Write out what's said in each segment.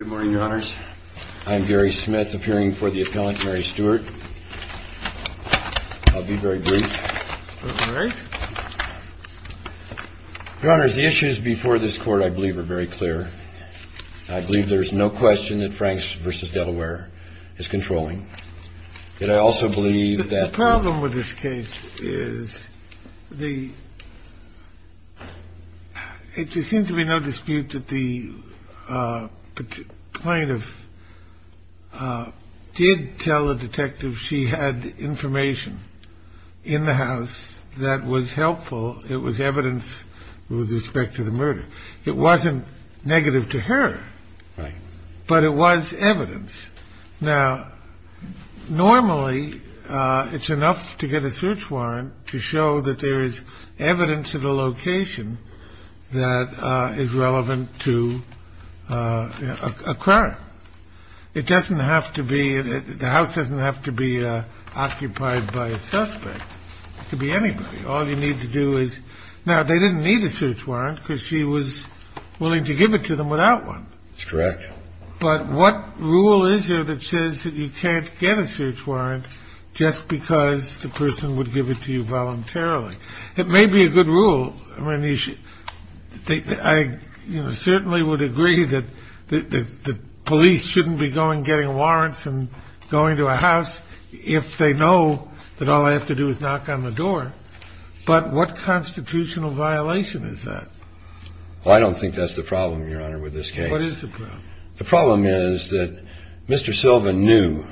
Good morning, Your Honors. I'm Gary Smith, appearing for the appellant, Mary Stewart. I'll be very brief. All right. Your Honors, the issues before this court, I believe, are very clear. I believe there is no question that Franks v. Delaware is controlling. And I also believe that the problem with this case is the there seems to be no dispute that the plaintiff did tell the detective she had information in the house that was helpful. It was evidence with respect to the murder. It wasn't negative to her, but it was evidence. Now, normally, it's enough to get a search warrant to show that there is evidence of a location that is relevant to a crime. It doesn't have to be. The house doesn't have to be occupied by a suspect to be anybody. All you need to do is. Now, they didn't need a search warrant because she was willing to give it to them without one. It's correct. But what rule is there that says that you can't get a search warrant just because the person would give it to you voluntarily? It may be a good rule. I mean, you should think I certainly would agree that the police shouldn't be going, getting warrants and going to a house if they know that all I have to do is knock on the door. But what constitutional violation is that? Well, I don't think that's the problem, Your Honor, with this case. What is the problem? The problem is that Mr. Sylvan knew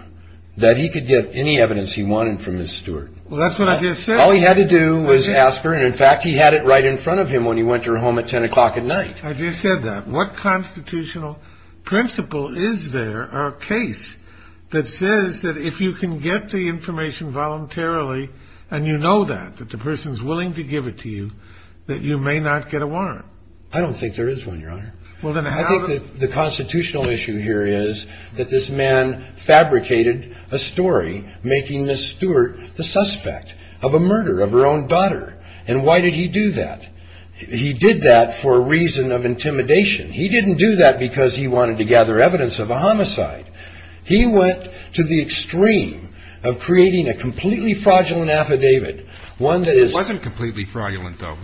that he could get any evidence he wanted from his steward. Well, that's what I just said. All he had to do was ask her. And in fact, he had it right in front of him when he went to her home at 10 o'clock at night. I just said that. What constitutional principle is there are a case that says that if you can get the information voluntarily and you know that, that the person is willing to give it to you, that you may not get a warrant. I don't think there is one, Your Honor. Well, then I think that the constitutional issue here is that this man fabricated a story, making Miss Stewart the suspect of a murder of her own daughter. And why did he do that? He did that for a reason of intimidation. He didn't do that because he wanted to gather evidence of a homicide. He went to the extreme of creating a completely fraudulent affidavit, one that is wasn't completely fraudulent, though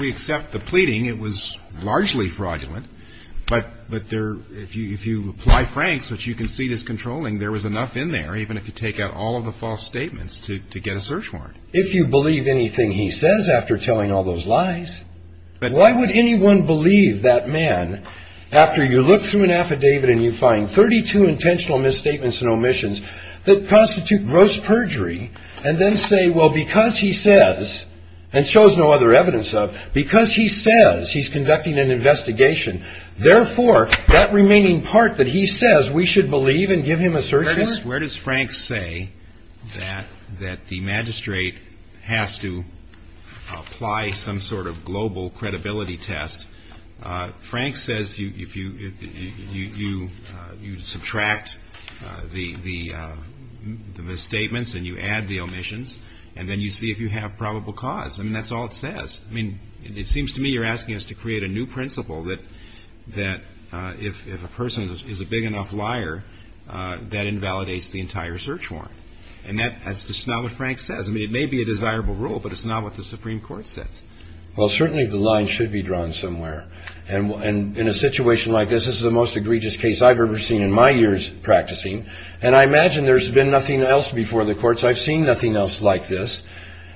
we accept the pleading. It was largely fraudulent. But but there if you if you apply Frank's, which you can see this controlling, there was enough in there even if you take out all of the false statements to get a search warrant. If you believe anything he says after telling all those lies. But why would anyone believe that man after you look through an affidavit and you find thirty two intentional misstatements and omissions that constitute gross perjury and then say, well, because he says and shows no other evidence of because he says he's conducting an investigation. Therefore, that remaining part that he says we should believe and give him a search. Where does Frank say that that the magistrate has to apply some sort of global credibility test? Frank says if you if you you you subtract the the statements and you add the omissions and then you see if you have probable cause. I mean, that's all it says. I mean, it seems to me you're asking us to create a new principle that that if a person is a big enough liar, that invalidates the entire search warrant. And that is not what Frank says. I mean, it may be a desirable rule, but it's not what the Supreme Court says. Well, certainly the line should be drawn somewhere. And in a situation like this is the most egregious case I've ever seen in my years practicing. And I imagine there's been nothing else before the courts. I've seen nothing else like this.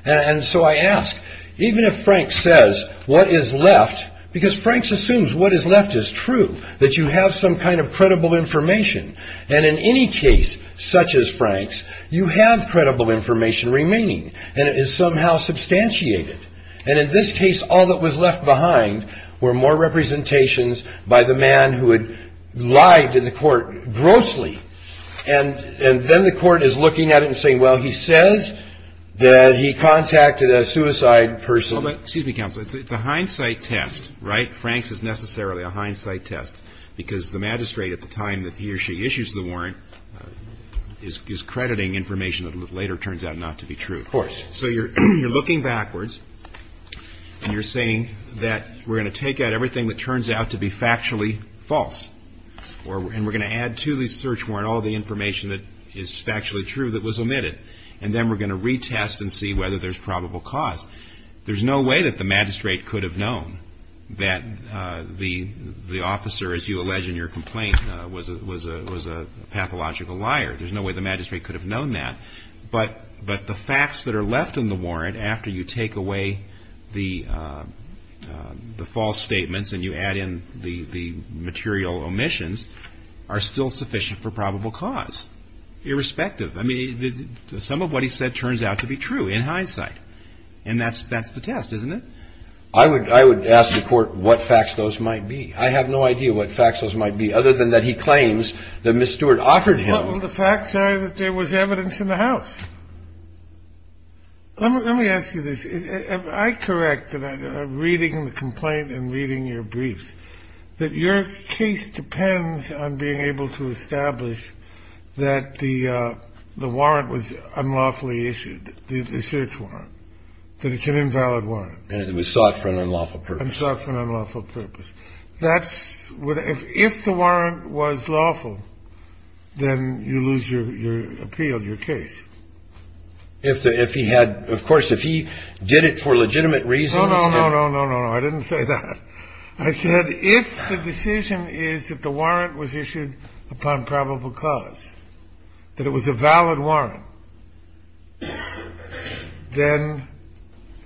And so I ask, even if Frank says what is left, because Frank's assumes what is left is true, that you have some kind of credible information. And in any case such as Frank's, you have credible information remaining and it is somehow substantiated. And in this case, all that was left behind were more representations by the man who had lied to the court grossly. And and then the court is looking at it and saying, well, he says that he contacted a suicide person. But excuse me, counsel, it's a hindsight test, right? Frank's is necessarily a hindsight test because the magistrate at the time that he or she issues the warrant is crediting information that later turns out not to be true. Of course. So you're you're looking backwards and you're saying that we're going to take out everything that turns out to be factually false or. And we're going to add to the search warrant all the information that is factually true that was omitted. And then we're going to retest and see whether there's probable cause. There's no way that the magistrate could have known that the the officer, as you allege in your complaint, was a was a was a pathological liar. There's no way the magistrate could have known that. But but the facts that are left in the warrant after you take away the the false statements and you add in the the material omissions are still sufficient for probable cause, irrespective. I mean, some of what he said turns out to be true in hindsight. And that's that's the test, isn't it? I would I would ask the court what facts those might be. I have no idea what facts those might be other than that. He claims that Miss Stewart offered him the facts that there was evidence in the house. Let me let me ask you this. I correct that reading the complaint and reading your briefs, that your case depends on being able to establish that the the warrant was unlawfully issued the search warrant that it's an invalid warrant. And it was sought for an unlawful purpose and for an unlawful purpose. That's what if if the warrant was lawful, then you lose your appeal, your case. If the if he had, of course, if he did it for legitimate reasons, no, no, no, no, no. I didn't say that. I said if the decision is that the warrant was issued upon probable cause that it was a valid warrant. Then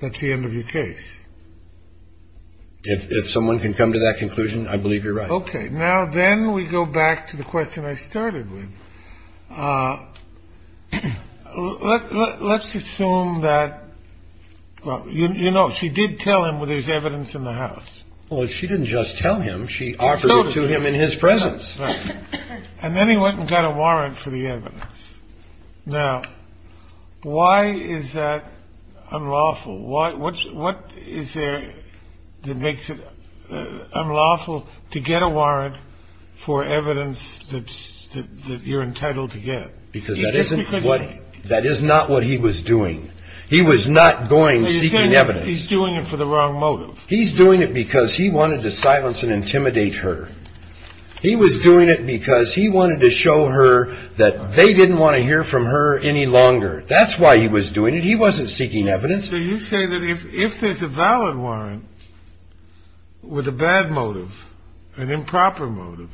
that's the end of your case. If someone can come to that conclusion, I believe you're right. OK. Now, then we go back to the question I started with. Let's assume that, well, you know, she did tell him what there's evidence in the house. Well, she didn't just tell him. She offered to him in his presence. And then he went and got a warrant for the evidence. Now, why is that unlawful? Why? What's what is there that makes it unlawful to get a warrant for evidence that you're entitled to get? Because that isn't what that is, not what he was doing. He was not going seeking evidence. He's doing it for the wrong motive. He's doing it because he wanted to silence and intimidate her. He was doing it because he wanted to show her that they didn't want to hear from her any longer. That's why he was doing it. He wasn't seeking evidence. So you say that if there's a valid warrant with a bad motive, an improper motive.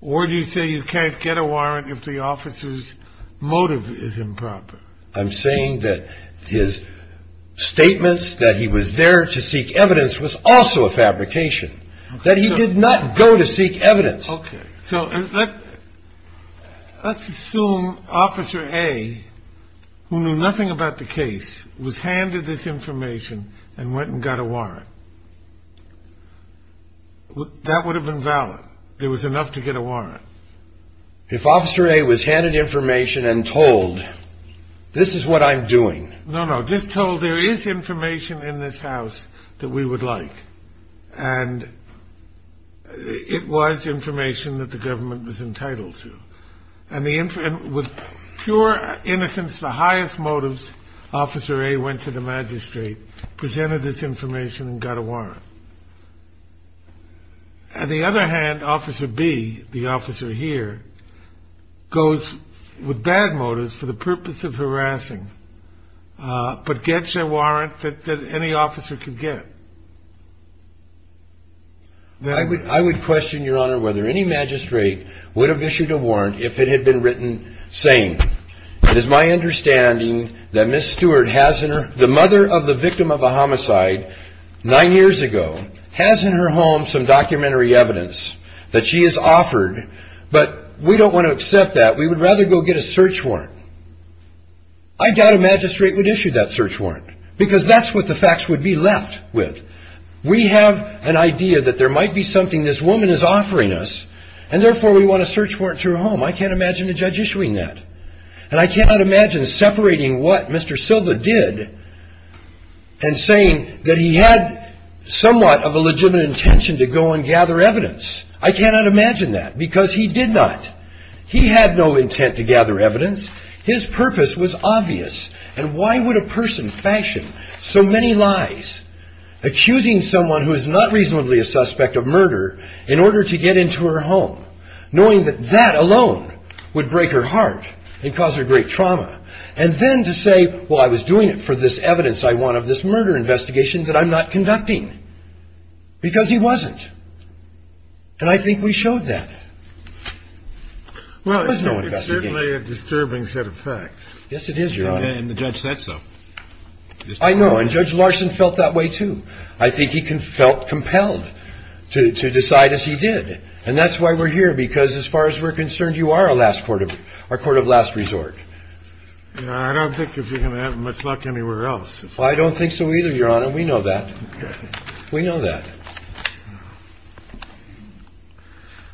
Or do you say you can't get a warrant if the officer's motive is improper? I'm saying that his statements that he was there to seek evidence was also a fabrication. That he did not go to seek evidence. OK, so let's assume Officer A, who knew nothing about the case, was handed this information and went and got a warrant. That would have been valid. There was enough to get a warrant. If Officer A was handed information and told this is what I'm doing. No, no, just told there is information in this house that we would like. And it was information that the government was entitled to. And with pure innocence, the highest motives, Officer A went to the magistrate, presented this information and got a warrant. On the other hand, Officer B, the officer here, goes with bad motives for the purpose of harassing. But gets a warrant that any officer could get. I would question, Your Honor, whether any magistrate would have issued a warrant if it had been written saying, it is my understanding that Ms. Stewart, the mother of the victim of a homicide, nine years ago, has in her home some documentary evidence that she has offered. But we don't want to accept that. We would rather go get a search warrant. I doubt a magistrate would issue that search warrant. Because that's what the facts would be left with. We have an idea that there might be something this woman is offering us. And therefore, we want a search warrant to her home. I can't imagine a judge issuing that. And I cannot imagine separating what Mr. Silva did and saying that he had somewhat of a legitimate intention to go and gather evidence. I cannot imagine that, because he did not. He had no intent to gather evidence. His purpose was obvious. And why would a person fashion so many lies, accusing someone who is not reasonably a suspect of murder in order to get into her home, knowing that that alone would break her heart and cause her great trauma, and then to say, well, I was doing it for this evidence I want of this murder investigation that I'm not conducting. Because he wasn't. And I think we showed that. Well, it's certainly a disturbing set of facts. Yes, it is, Your Honor. And the judge said so. I know. And Judge Larson felt that way, too. I think he felt compelled to decide, as he did. And that's why we're here, because as far as we're concerned, you are our court of last resort. I don't think you're going to have much luck anywhere else. I don't think so either, Your Honor. We know that. We know that.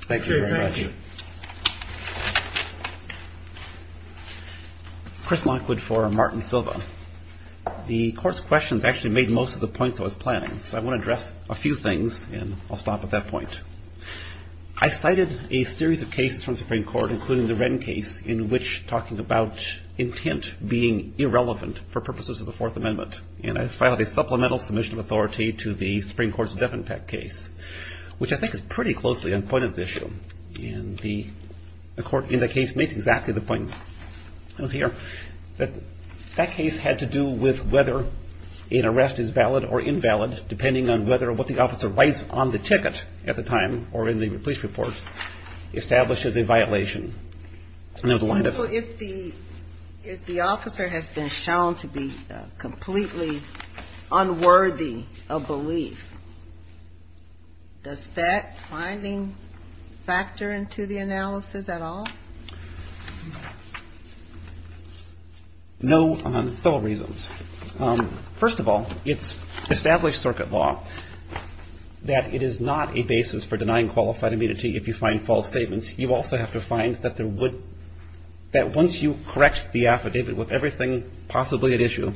Thank you very much. Thank you. Chris Lockwood for Martin Silva. The court's questions actually made most of the points I was planning. So I want to address a few things, and I'll stop at that point. I cited a series of cases from the Supreme Court, including the Wren case, in which talking about intent being irrelevant for purposes of the Fourth Amendment. And I filed a supplemental submission of authority to the Supreme Court's Devin Peck case, which I think is pretty closely on the point of the issue. And the court in the case makes exactly the point that was here, that that case had to do with whether an arrest is valid or invalid, depending on whether what the officer writes on the ticket at the time, or in the police report, establishes a violation. And there was a line of- If the officer has been shown to be completely unworthy of belief, does that finding factor into the analysis at all? No, on several reasons. First of all, it's established circuit law that it is not a basis for denying qualified immunity if you find false statements. You also have to find that once you correct the affidavit with everything possibly at issue,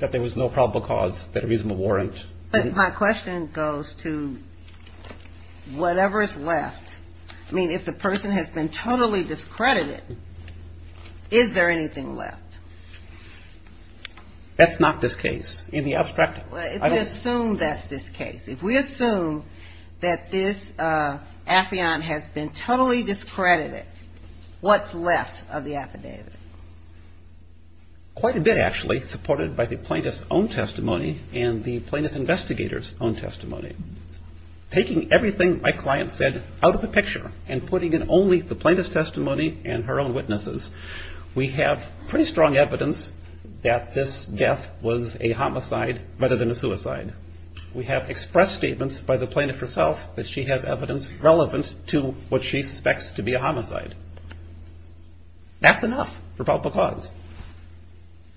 that there was no probable cause that a reasonable warrant. But my question goes to whatever is left. I mean, if the person has been totally discredited, is there anything left? That's not this case. In the abstract- Well, if we assume that's this case, if we assume that this affiant has been totally discredited, what's left of the affidavit? Quite a bit, actually, supported by the plaintiff's own testimony and the plaintiff's investigator's own testimony. Taking everything my client said out of the picture and putting in only the plaintiff's testimony and her own witnesses, we have pretty strong evidence that this death was a homicide rather than a suicide. We have expressed statements by the plaintiff herself that she has evidence relevant to what she suspects to be a homicide. That's enough for probable cause.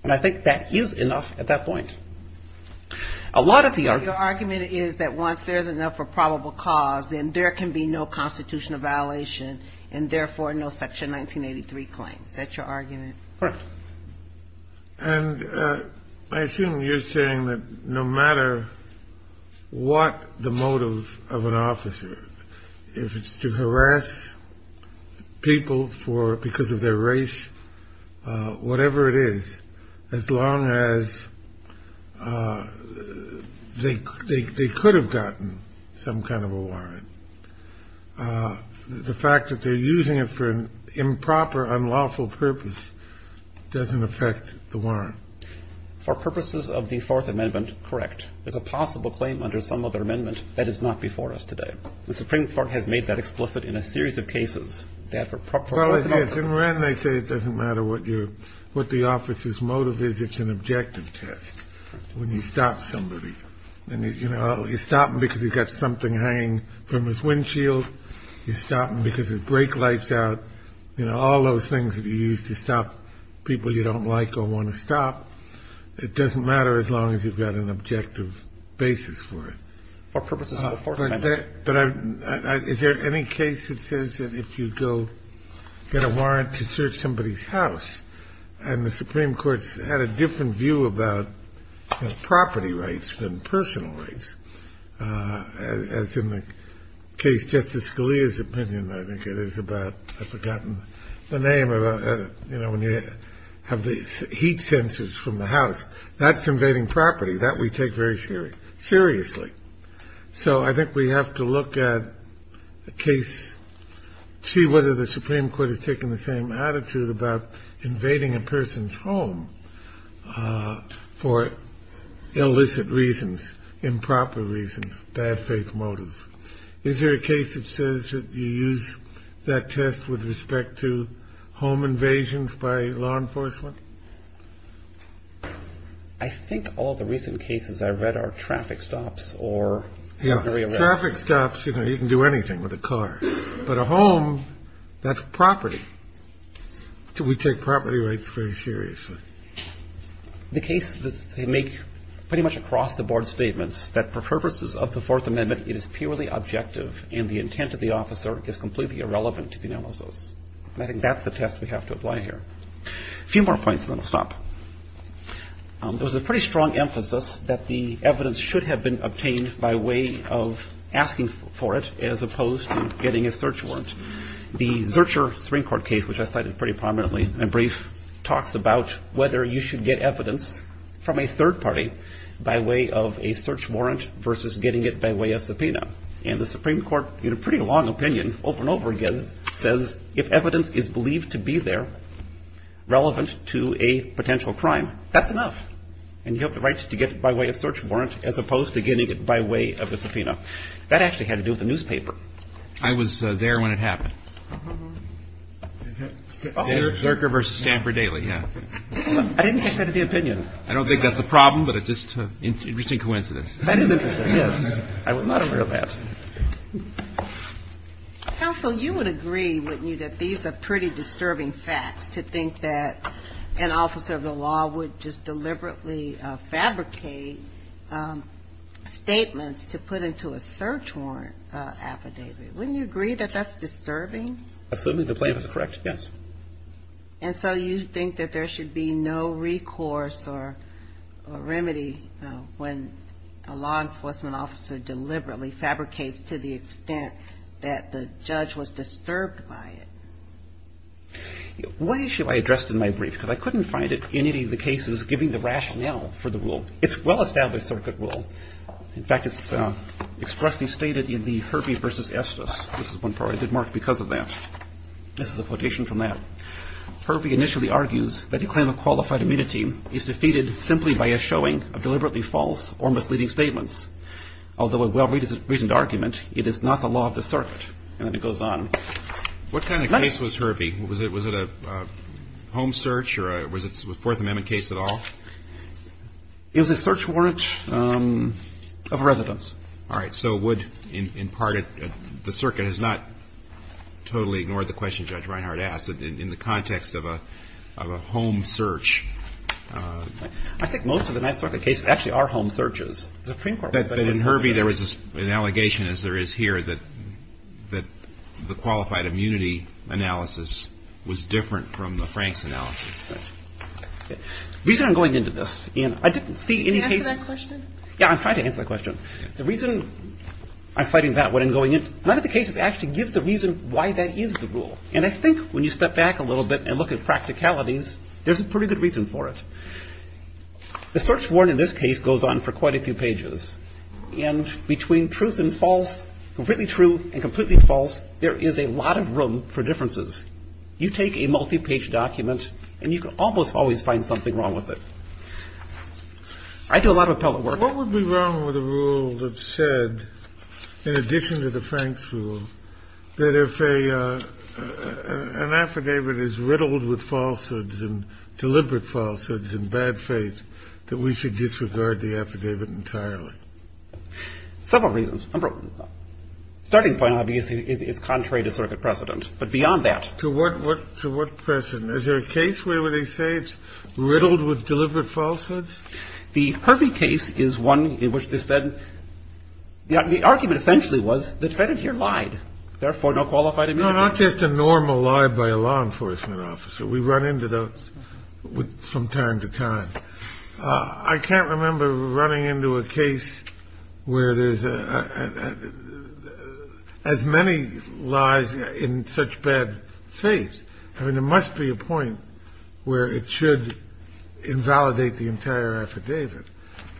And I think that is enough at that point. A lot of the- Your argument is that once there's enough for probable cause, then there can be no constitutional violation, and therefore, no Section 1983 claims. That's your argument? Correct. And I assume you're saying that no matter what the motive of an officer, if it's to harass people for- because of their race, whatever it is, as long as they could have gotten some kind of a warrant, the fact that they're using it for an improper, unlawful purpose, doesn't affect the warrant. For purposes of the Fourth Amendment, correct. There's a possible claim under some other amendment that is not before us today. The Supreme Court has made that explicit in a series of cases. Well, it is. And when they say it doesn't matter what the officer's motive is, it's an objective test when you stop somebody. And you're stopping because you've got something hanging from his windshield. You're stopping because his brake light's out. You know, all those things that you use to stop people you don't like or want to stop, it doesn't matter as long as you've got an objective basis for it. For purposes of the Fourth Amendment. But is there any case that says that if you go get a warrant to search somebody's house, and the Supreme Court's had a different view about property rights than personal rights, as in the case Justice Scalia's opinion, I think it is about, I've forgotten the name of, you know, when you have these heat sensors from the house. That's invading property. That we take very seriously. So I think we have to look at a case, see whether the Supreme Court has taken the same attitude about invading a person's home for illicit reasons, improper reasons, bad, fake motives. Is there a case that says that you use that test with respect to home invasions by law enforcement? I think all the recent cases I've read are traffic stops or. Yeah, traffic stops, you know, you can do anything with a car. But a home, that's property. We take property rights very seriously. The case that they make pretty much across the board statements that for purposes of the Fourth Amendment, it is purely objective and the intent of the officer is completely irrelevant to the analysis. I think that's the test we have to apply here. A few more points and then I'll stop. There was a pretty strong emphasis that the evidence should have been obtained by way of asking for it, as opposed to getting a search warrant. The Zurcher Supreme Court case, which I cited pretty prominently and brief, talks about whether you should get evidence from a third party by way of a search warrant versus getting it by way of subpoena. And the Supreme Court, in a pretty long opinion, over and over again, says if evidence is believed to be there, relevant to a potential crime, that's enough. And you have the right to get it by way of search warrant, as opposed to getting it by way of a subpoena. I was there when it happened. Zurcher v. Stamper-Daley, yeah. I didn't catch that at the opinion. I don't think that's a problem, but it's just an interesting coincidence. That is interesting, yes. I was not aware of that. Counsel, you would agree, wouldn't you, that these are pretty disturbing facts to think that an officer of the law would just deliberately fabricate statements to put into a search warrant affidavit. Wouldn't you agree that that's disturbing? Assuming the plaintiff is correct, yes. And so you think that there should be no recourse or remedy when a law enforcement officer deliberately fabricates to the extent that the judge was disturbed by it? One issue I addressed in my brief, because I couldn't find it in any of the cases giving the rationale for the rule. It's a well-established circuit rule. In fact, it's expressly stated in the Herbie v. Estes. This is one part I did mark because of that. This is a quotation from that. Herbie initially argues that a claim of qualified immunity is defeated simply by a showing of deliberately false or misleading statements. Although a well-reasoned argument, it is not the law of the circuit. And then it goes on. What kind of case was Herbie? Was it a home search, or was it a Fourth Amendment case at all? It was a search warrant of a residence. All right. So would, in part, the circuit has not totally ignored the question Judge Reinhart asked in the context of a home search. I think most of the Ninth Circuit cases actually are home searches. The Supreme Court was. But in Herbie, there was an allegation, as there is here, that the qualified immunity analysis was different from the Franks analysis. The reason I'm going into this, and I didn't see any cases. Can you answer that question? Yeah, I'm trying to answer that question. The reason I'm citing that when I'm going in, none of the cases actually give the reason why that is the rule. And I think when you step back a little bit and look at practicalities, there's a pretty good reason for it. The search warrant in this case goes on for quite a few pages. And between truth and false, completely true and completely false, there is a lot of room for differences. You take a multi-page document, and you can almost always find something wrong with it. I do a lot of appellate work. What would be wrong with a rule that said, in addition to the Franks rule, that if an affidavit is riddled with falsehoods, and deliberate falsehoods, and bad faith, that we should disregard the affidavit entirely? Several reasons. Number one, starting point, obviously, is contrary to circuit precedent. But beyond that- To what precedent? Is there a case where they say it's riddled with deliberate falsehoods? The Hervey case is one in which they said, the argument essentially was, the defendant here lied. Therefore, no qualified immunity. No, not just a normal lie by a law enforcement officer. We run into those from time to time. I can't remember running into a case where there's as many lies in such bad faith. I mean, there must be a point where it should invalidate the entire affidavit.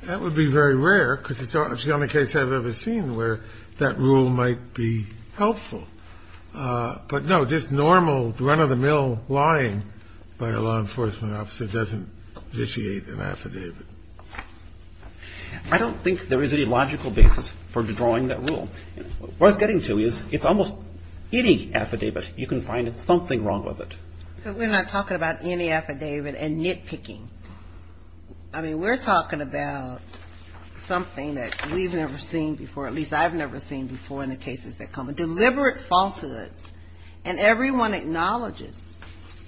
That would be very rare, because it's the only case I've ever seen where that rule might be helpful. But no, just normal run-of-the-mill lying by a law enforcement officer doesn't vitiate an affidavit. I don't think there is any logical basis for drawing that rule. What it's getting to is, it's almost any affidavit, you can find something wrong with it. But we're not talking about any affidavit and nitpicking. I mean, we're talking about something that we've never seen before, at least I've never seen before in the cases that come. Deliberate falsehoods. And everyone acknowledges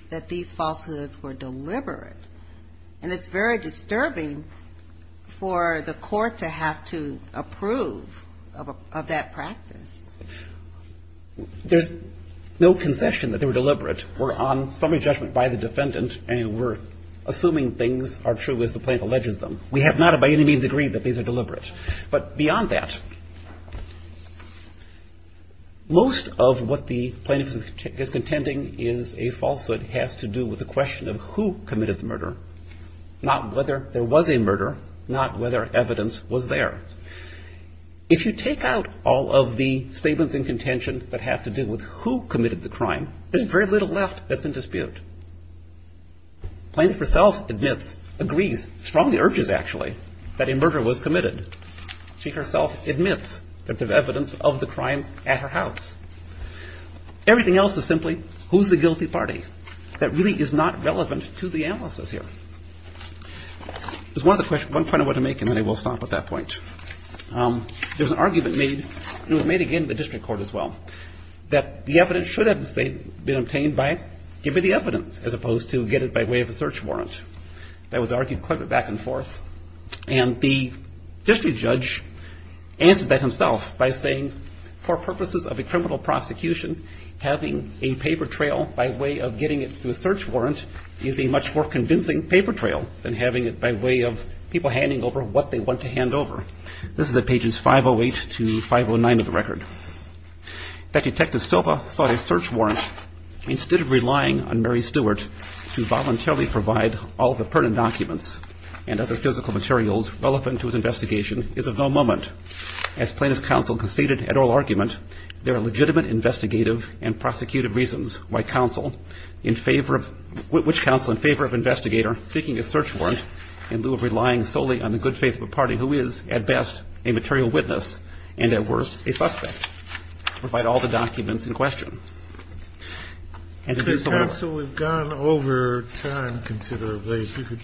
that these falsehoods were deliberate. And it's very disturbing for the court to have to approve of that practice. There's no concession that they were deliberate. We're on summary judgment by the defendant, and we're assuming things are true, as the plaintiff alleges them. We have not, by any means, agreed that these are deliberate. But beyond that, most of what the plaintiff is contending is a falsehood. It has to do with the question of who committed the murder, not whether there was a murder, not whether evidence was there. If you take out all of the statements in contention that have to do with who committed the crime, there's very little left that's in dispute. Plaintiff herself admits, agrees, strongly urges actually, that a murder was committed. She herself admits that there's evidence of the crime at her house. Everything else is simply, who's the guilty party? That really is not relevant to the analysis here. There's one point I want to make, and then I will stop at that point. There's an argument made, and it was made again in the district court as well, that the evidence should have been obtained by giving the evidence, as opposed to get it by way of a search warrant. That was argued quite a bit back and forth. And the district judge answered that himself by saying, for purposes of a criminal prosecution, having a paper trail by way of getting it through a search warrant is a much more convincing paper trail than having it by way of people handing over what they want to hand over. This is at pages 508 to 509 of the record. That Detective Silva sought a search warrant instead of relying on Mary Stewart to voluntarily provide all the pertinent documents and other physical materials relevant to his investigation is of no moment. As plaintiff's counsel conceded at oral argument, there are legitimate investigative and prosecutive reasons why counsel in favor of, which counsel in favor of investigator seeking a search warrant in lieu of relying solely on the good faith of a party who is, at best, a material witness, and at worst, a suspect, to provide all the documents in question. And if it's the one- If the counsel had gone over time considerably, if you could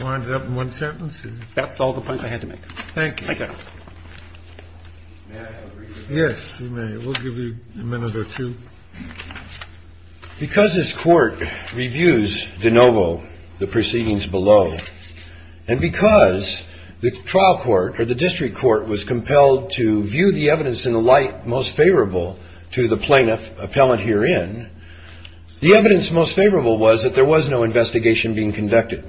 wind it up in one sentence. That's all the points I had to make. Thank you. Thank you. May I have a reading? Yes, you may. We'll give you a minute or two. Because this court reviews de novo the proceedings below, and because the trial court or the district court was compelled to view the evidence in the light most favorable to the plaintiff, appellant herein, the evidence most favorable was that there was no investigation being conducted.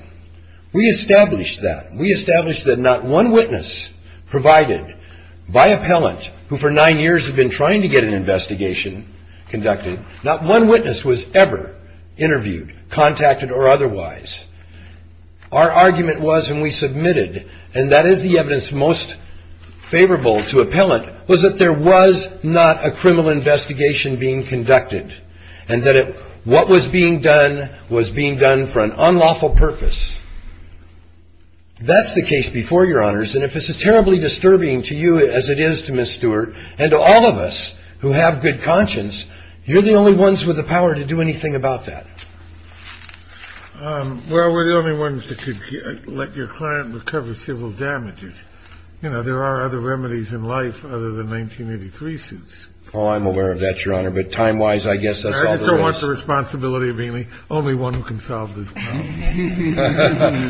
We established that. We established that not one witness provided by appellant, who for nine years had been trying to get an investigation conducted, not one witness was ever interviewed, contacted, or otherwise. Our argument was, and we submitted, and that is the evidence most favorable to appellant, was that there was not a criminal investigation being conducted, and that what was being done was being done for an unlawful purpose. That's the case before, Your Honors. And if this is terribly disturbing to you, as it is to Ms. Stewart, and to all of us who have good conscience, you're the only ones with the power to do anything about that. Well, we're the only ones that could let your client recover civil damages. You know, there are other remedies in life other than 1983 suits. Oh, I'm aware of that, Your Honor. But time-wise, I guess that's all there is. I just don't want the responsibility of being the only one who can solve this problem.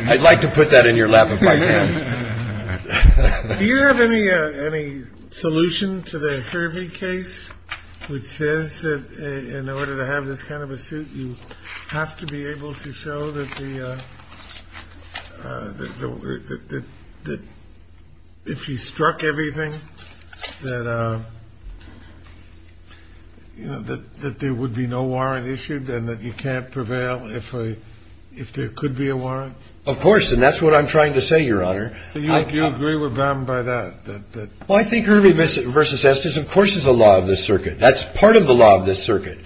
I'd like to put that in your lap if I can. Do you have any solution to the Hervey case, which says that in order to have this kind of a suit, you have to be able to show that if you struck everything that there would be no warrant issued and that you can't prevail if there could be a warrant? Of course, and that's what I'm trying to say, Your Honor. So you agree with them by that? Well, I think Hervey v. Estes, of course, is a law of this circuit. That's part of the law of this circuit.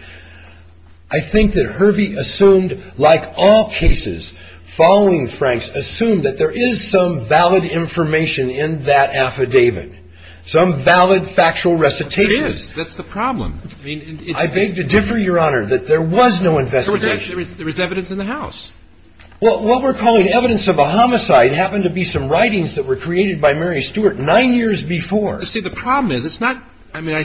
I think that Hervey assumed, like all cases following Frank's, assumed that there is some valid information in that affidavit, some valid factual recitation. It is. That's the problem. I beg to differ, Your Honor, that there was no investigation. There was evidence in the house. Well, what we're calling evidence of a homicide happened to be some writings that were created by Mary Stewart nine years before. See, the problem is, it's not, I mean, I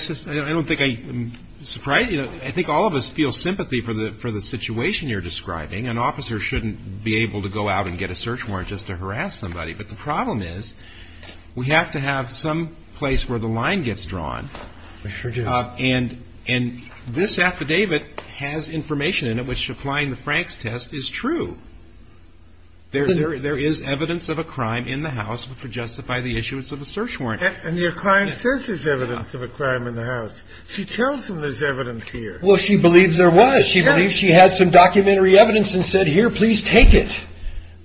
don't think I'm surprised. I think all of us feel sympathy for the situation you're describing. An officer shouldn't be able to go out and get a search warrant just to harass somebody. But the problem is, we have to have some place where the line gets drawn. We sure do. And this affidavit has information in it which, applying the Frank's test, is true. There is evidence of a crime in the house which would justify the issuance of a search warrant. And your client says there's evidence of a crime in the house. She tells him there's evidence here. Well, she believes there was. She believes she had some documentary evidence and said, here, please take it.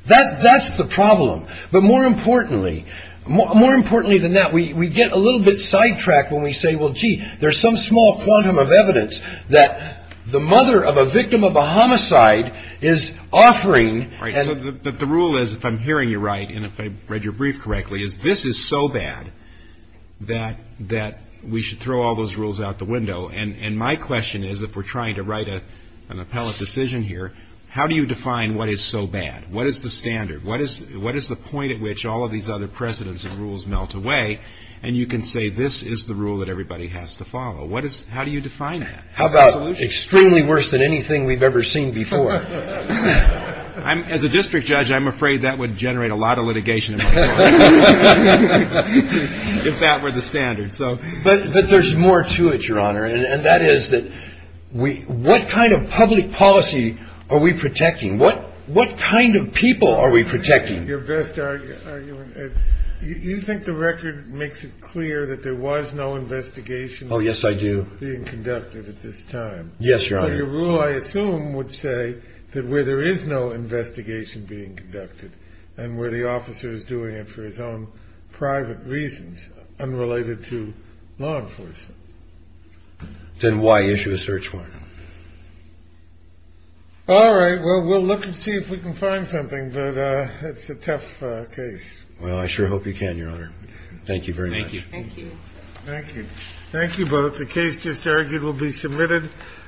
That's the problem. But more importantly, more importantly than that, we get a little bit sidetracked when we say, well, gee, there's some small quantum of evidence that the mother of a victim of a homicide is offering. Right. But the rule is, if I'm hearing you right and if I read your brief correctly, is this is so bad that that we should throw all those rules out the window. And my question is, if we're trying to write an appellate decision here, how do you define what is so bad? What is the standard? What is what is the point at which all of these other precedents and rules melt away? And you can say this is the rule that everybody has to follow. What is how do you define that? How about extremely worse than anything we've ever seen before? I'm as a district judge. I'm afraid that would generate a lot of litigation if that were the standard. So but there's more to it, Your Honor. And that is that we what kind of public policy are we protecting? What what kind of people are we protecting? Your best argument is you think the record makes it clear that there was no investigation. Oh, yes, I do. Being conducted at this time. Yes, Your Honor. Your rule, I assume, would say that where there is no investigation being conducted and where the officer is doing it for his own private reasons unrelated to law enforcement. Then why issue a search warrant? All right, well, we'll look and see if we can find something. But it's a tough case. Well, I sure hope you can, Your Honor. Thank you very much. Thank you. Thank you. Thank you both. The case just argued will be submitted.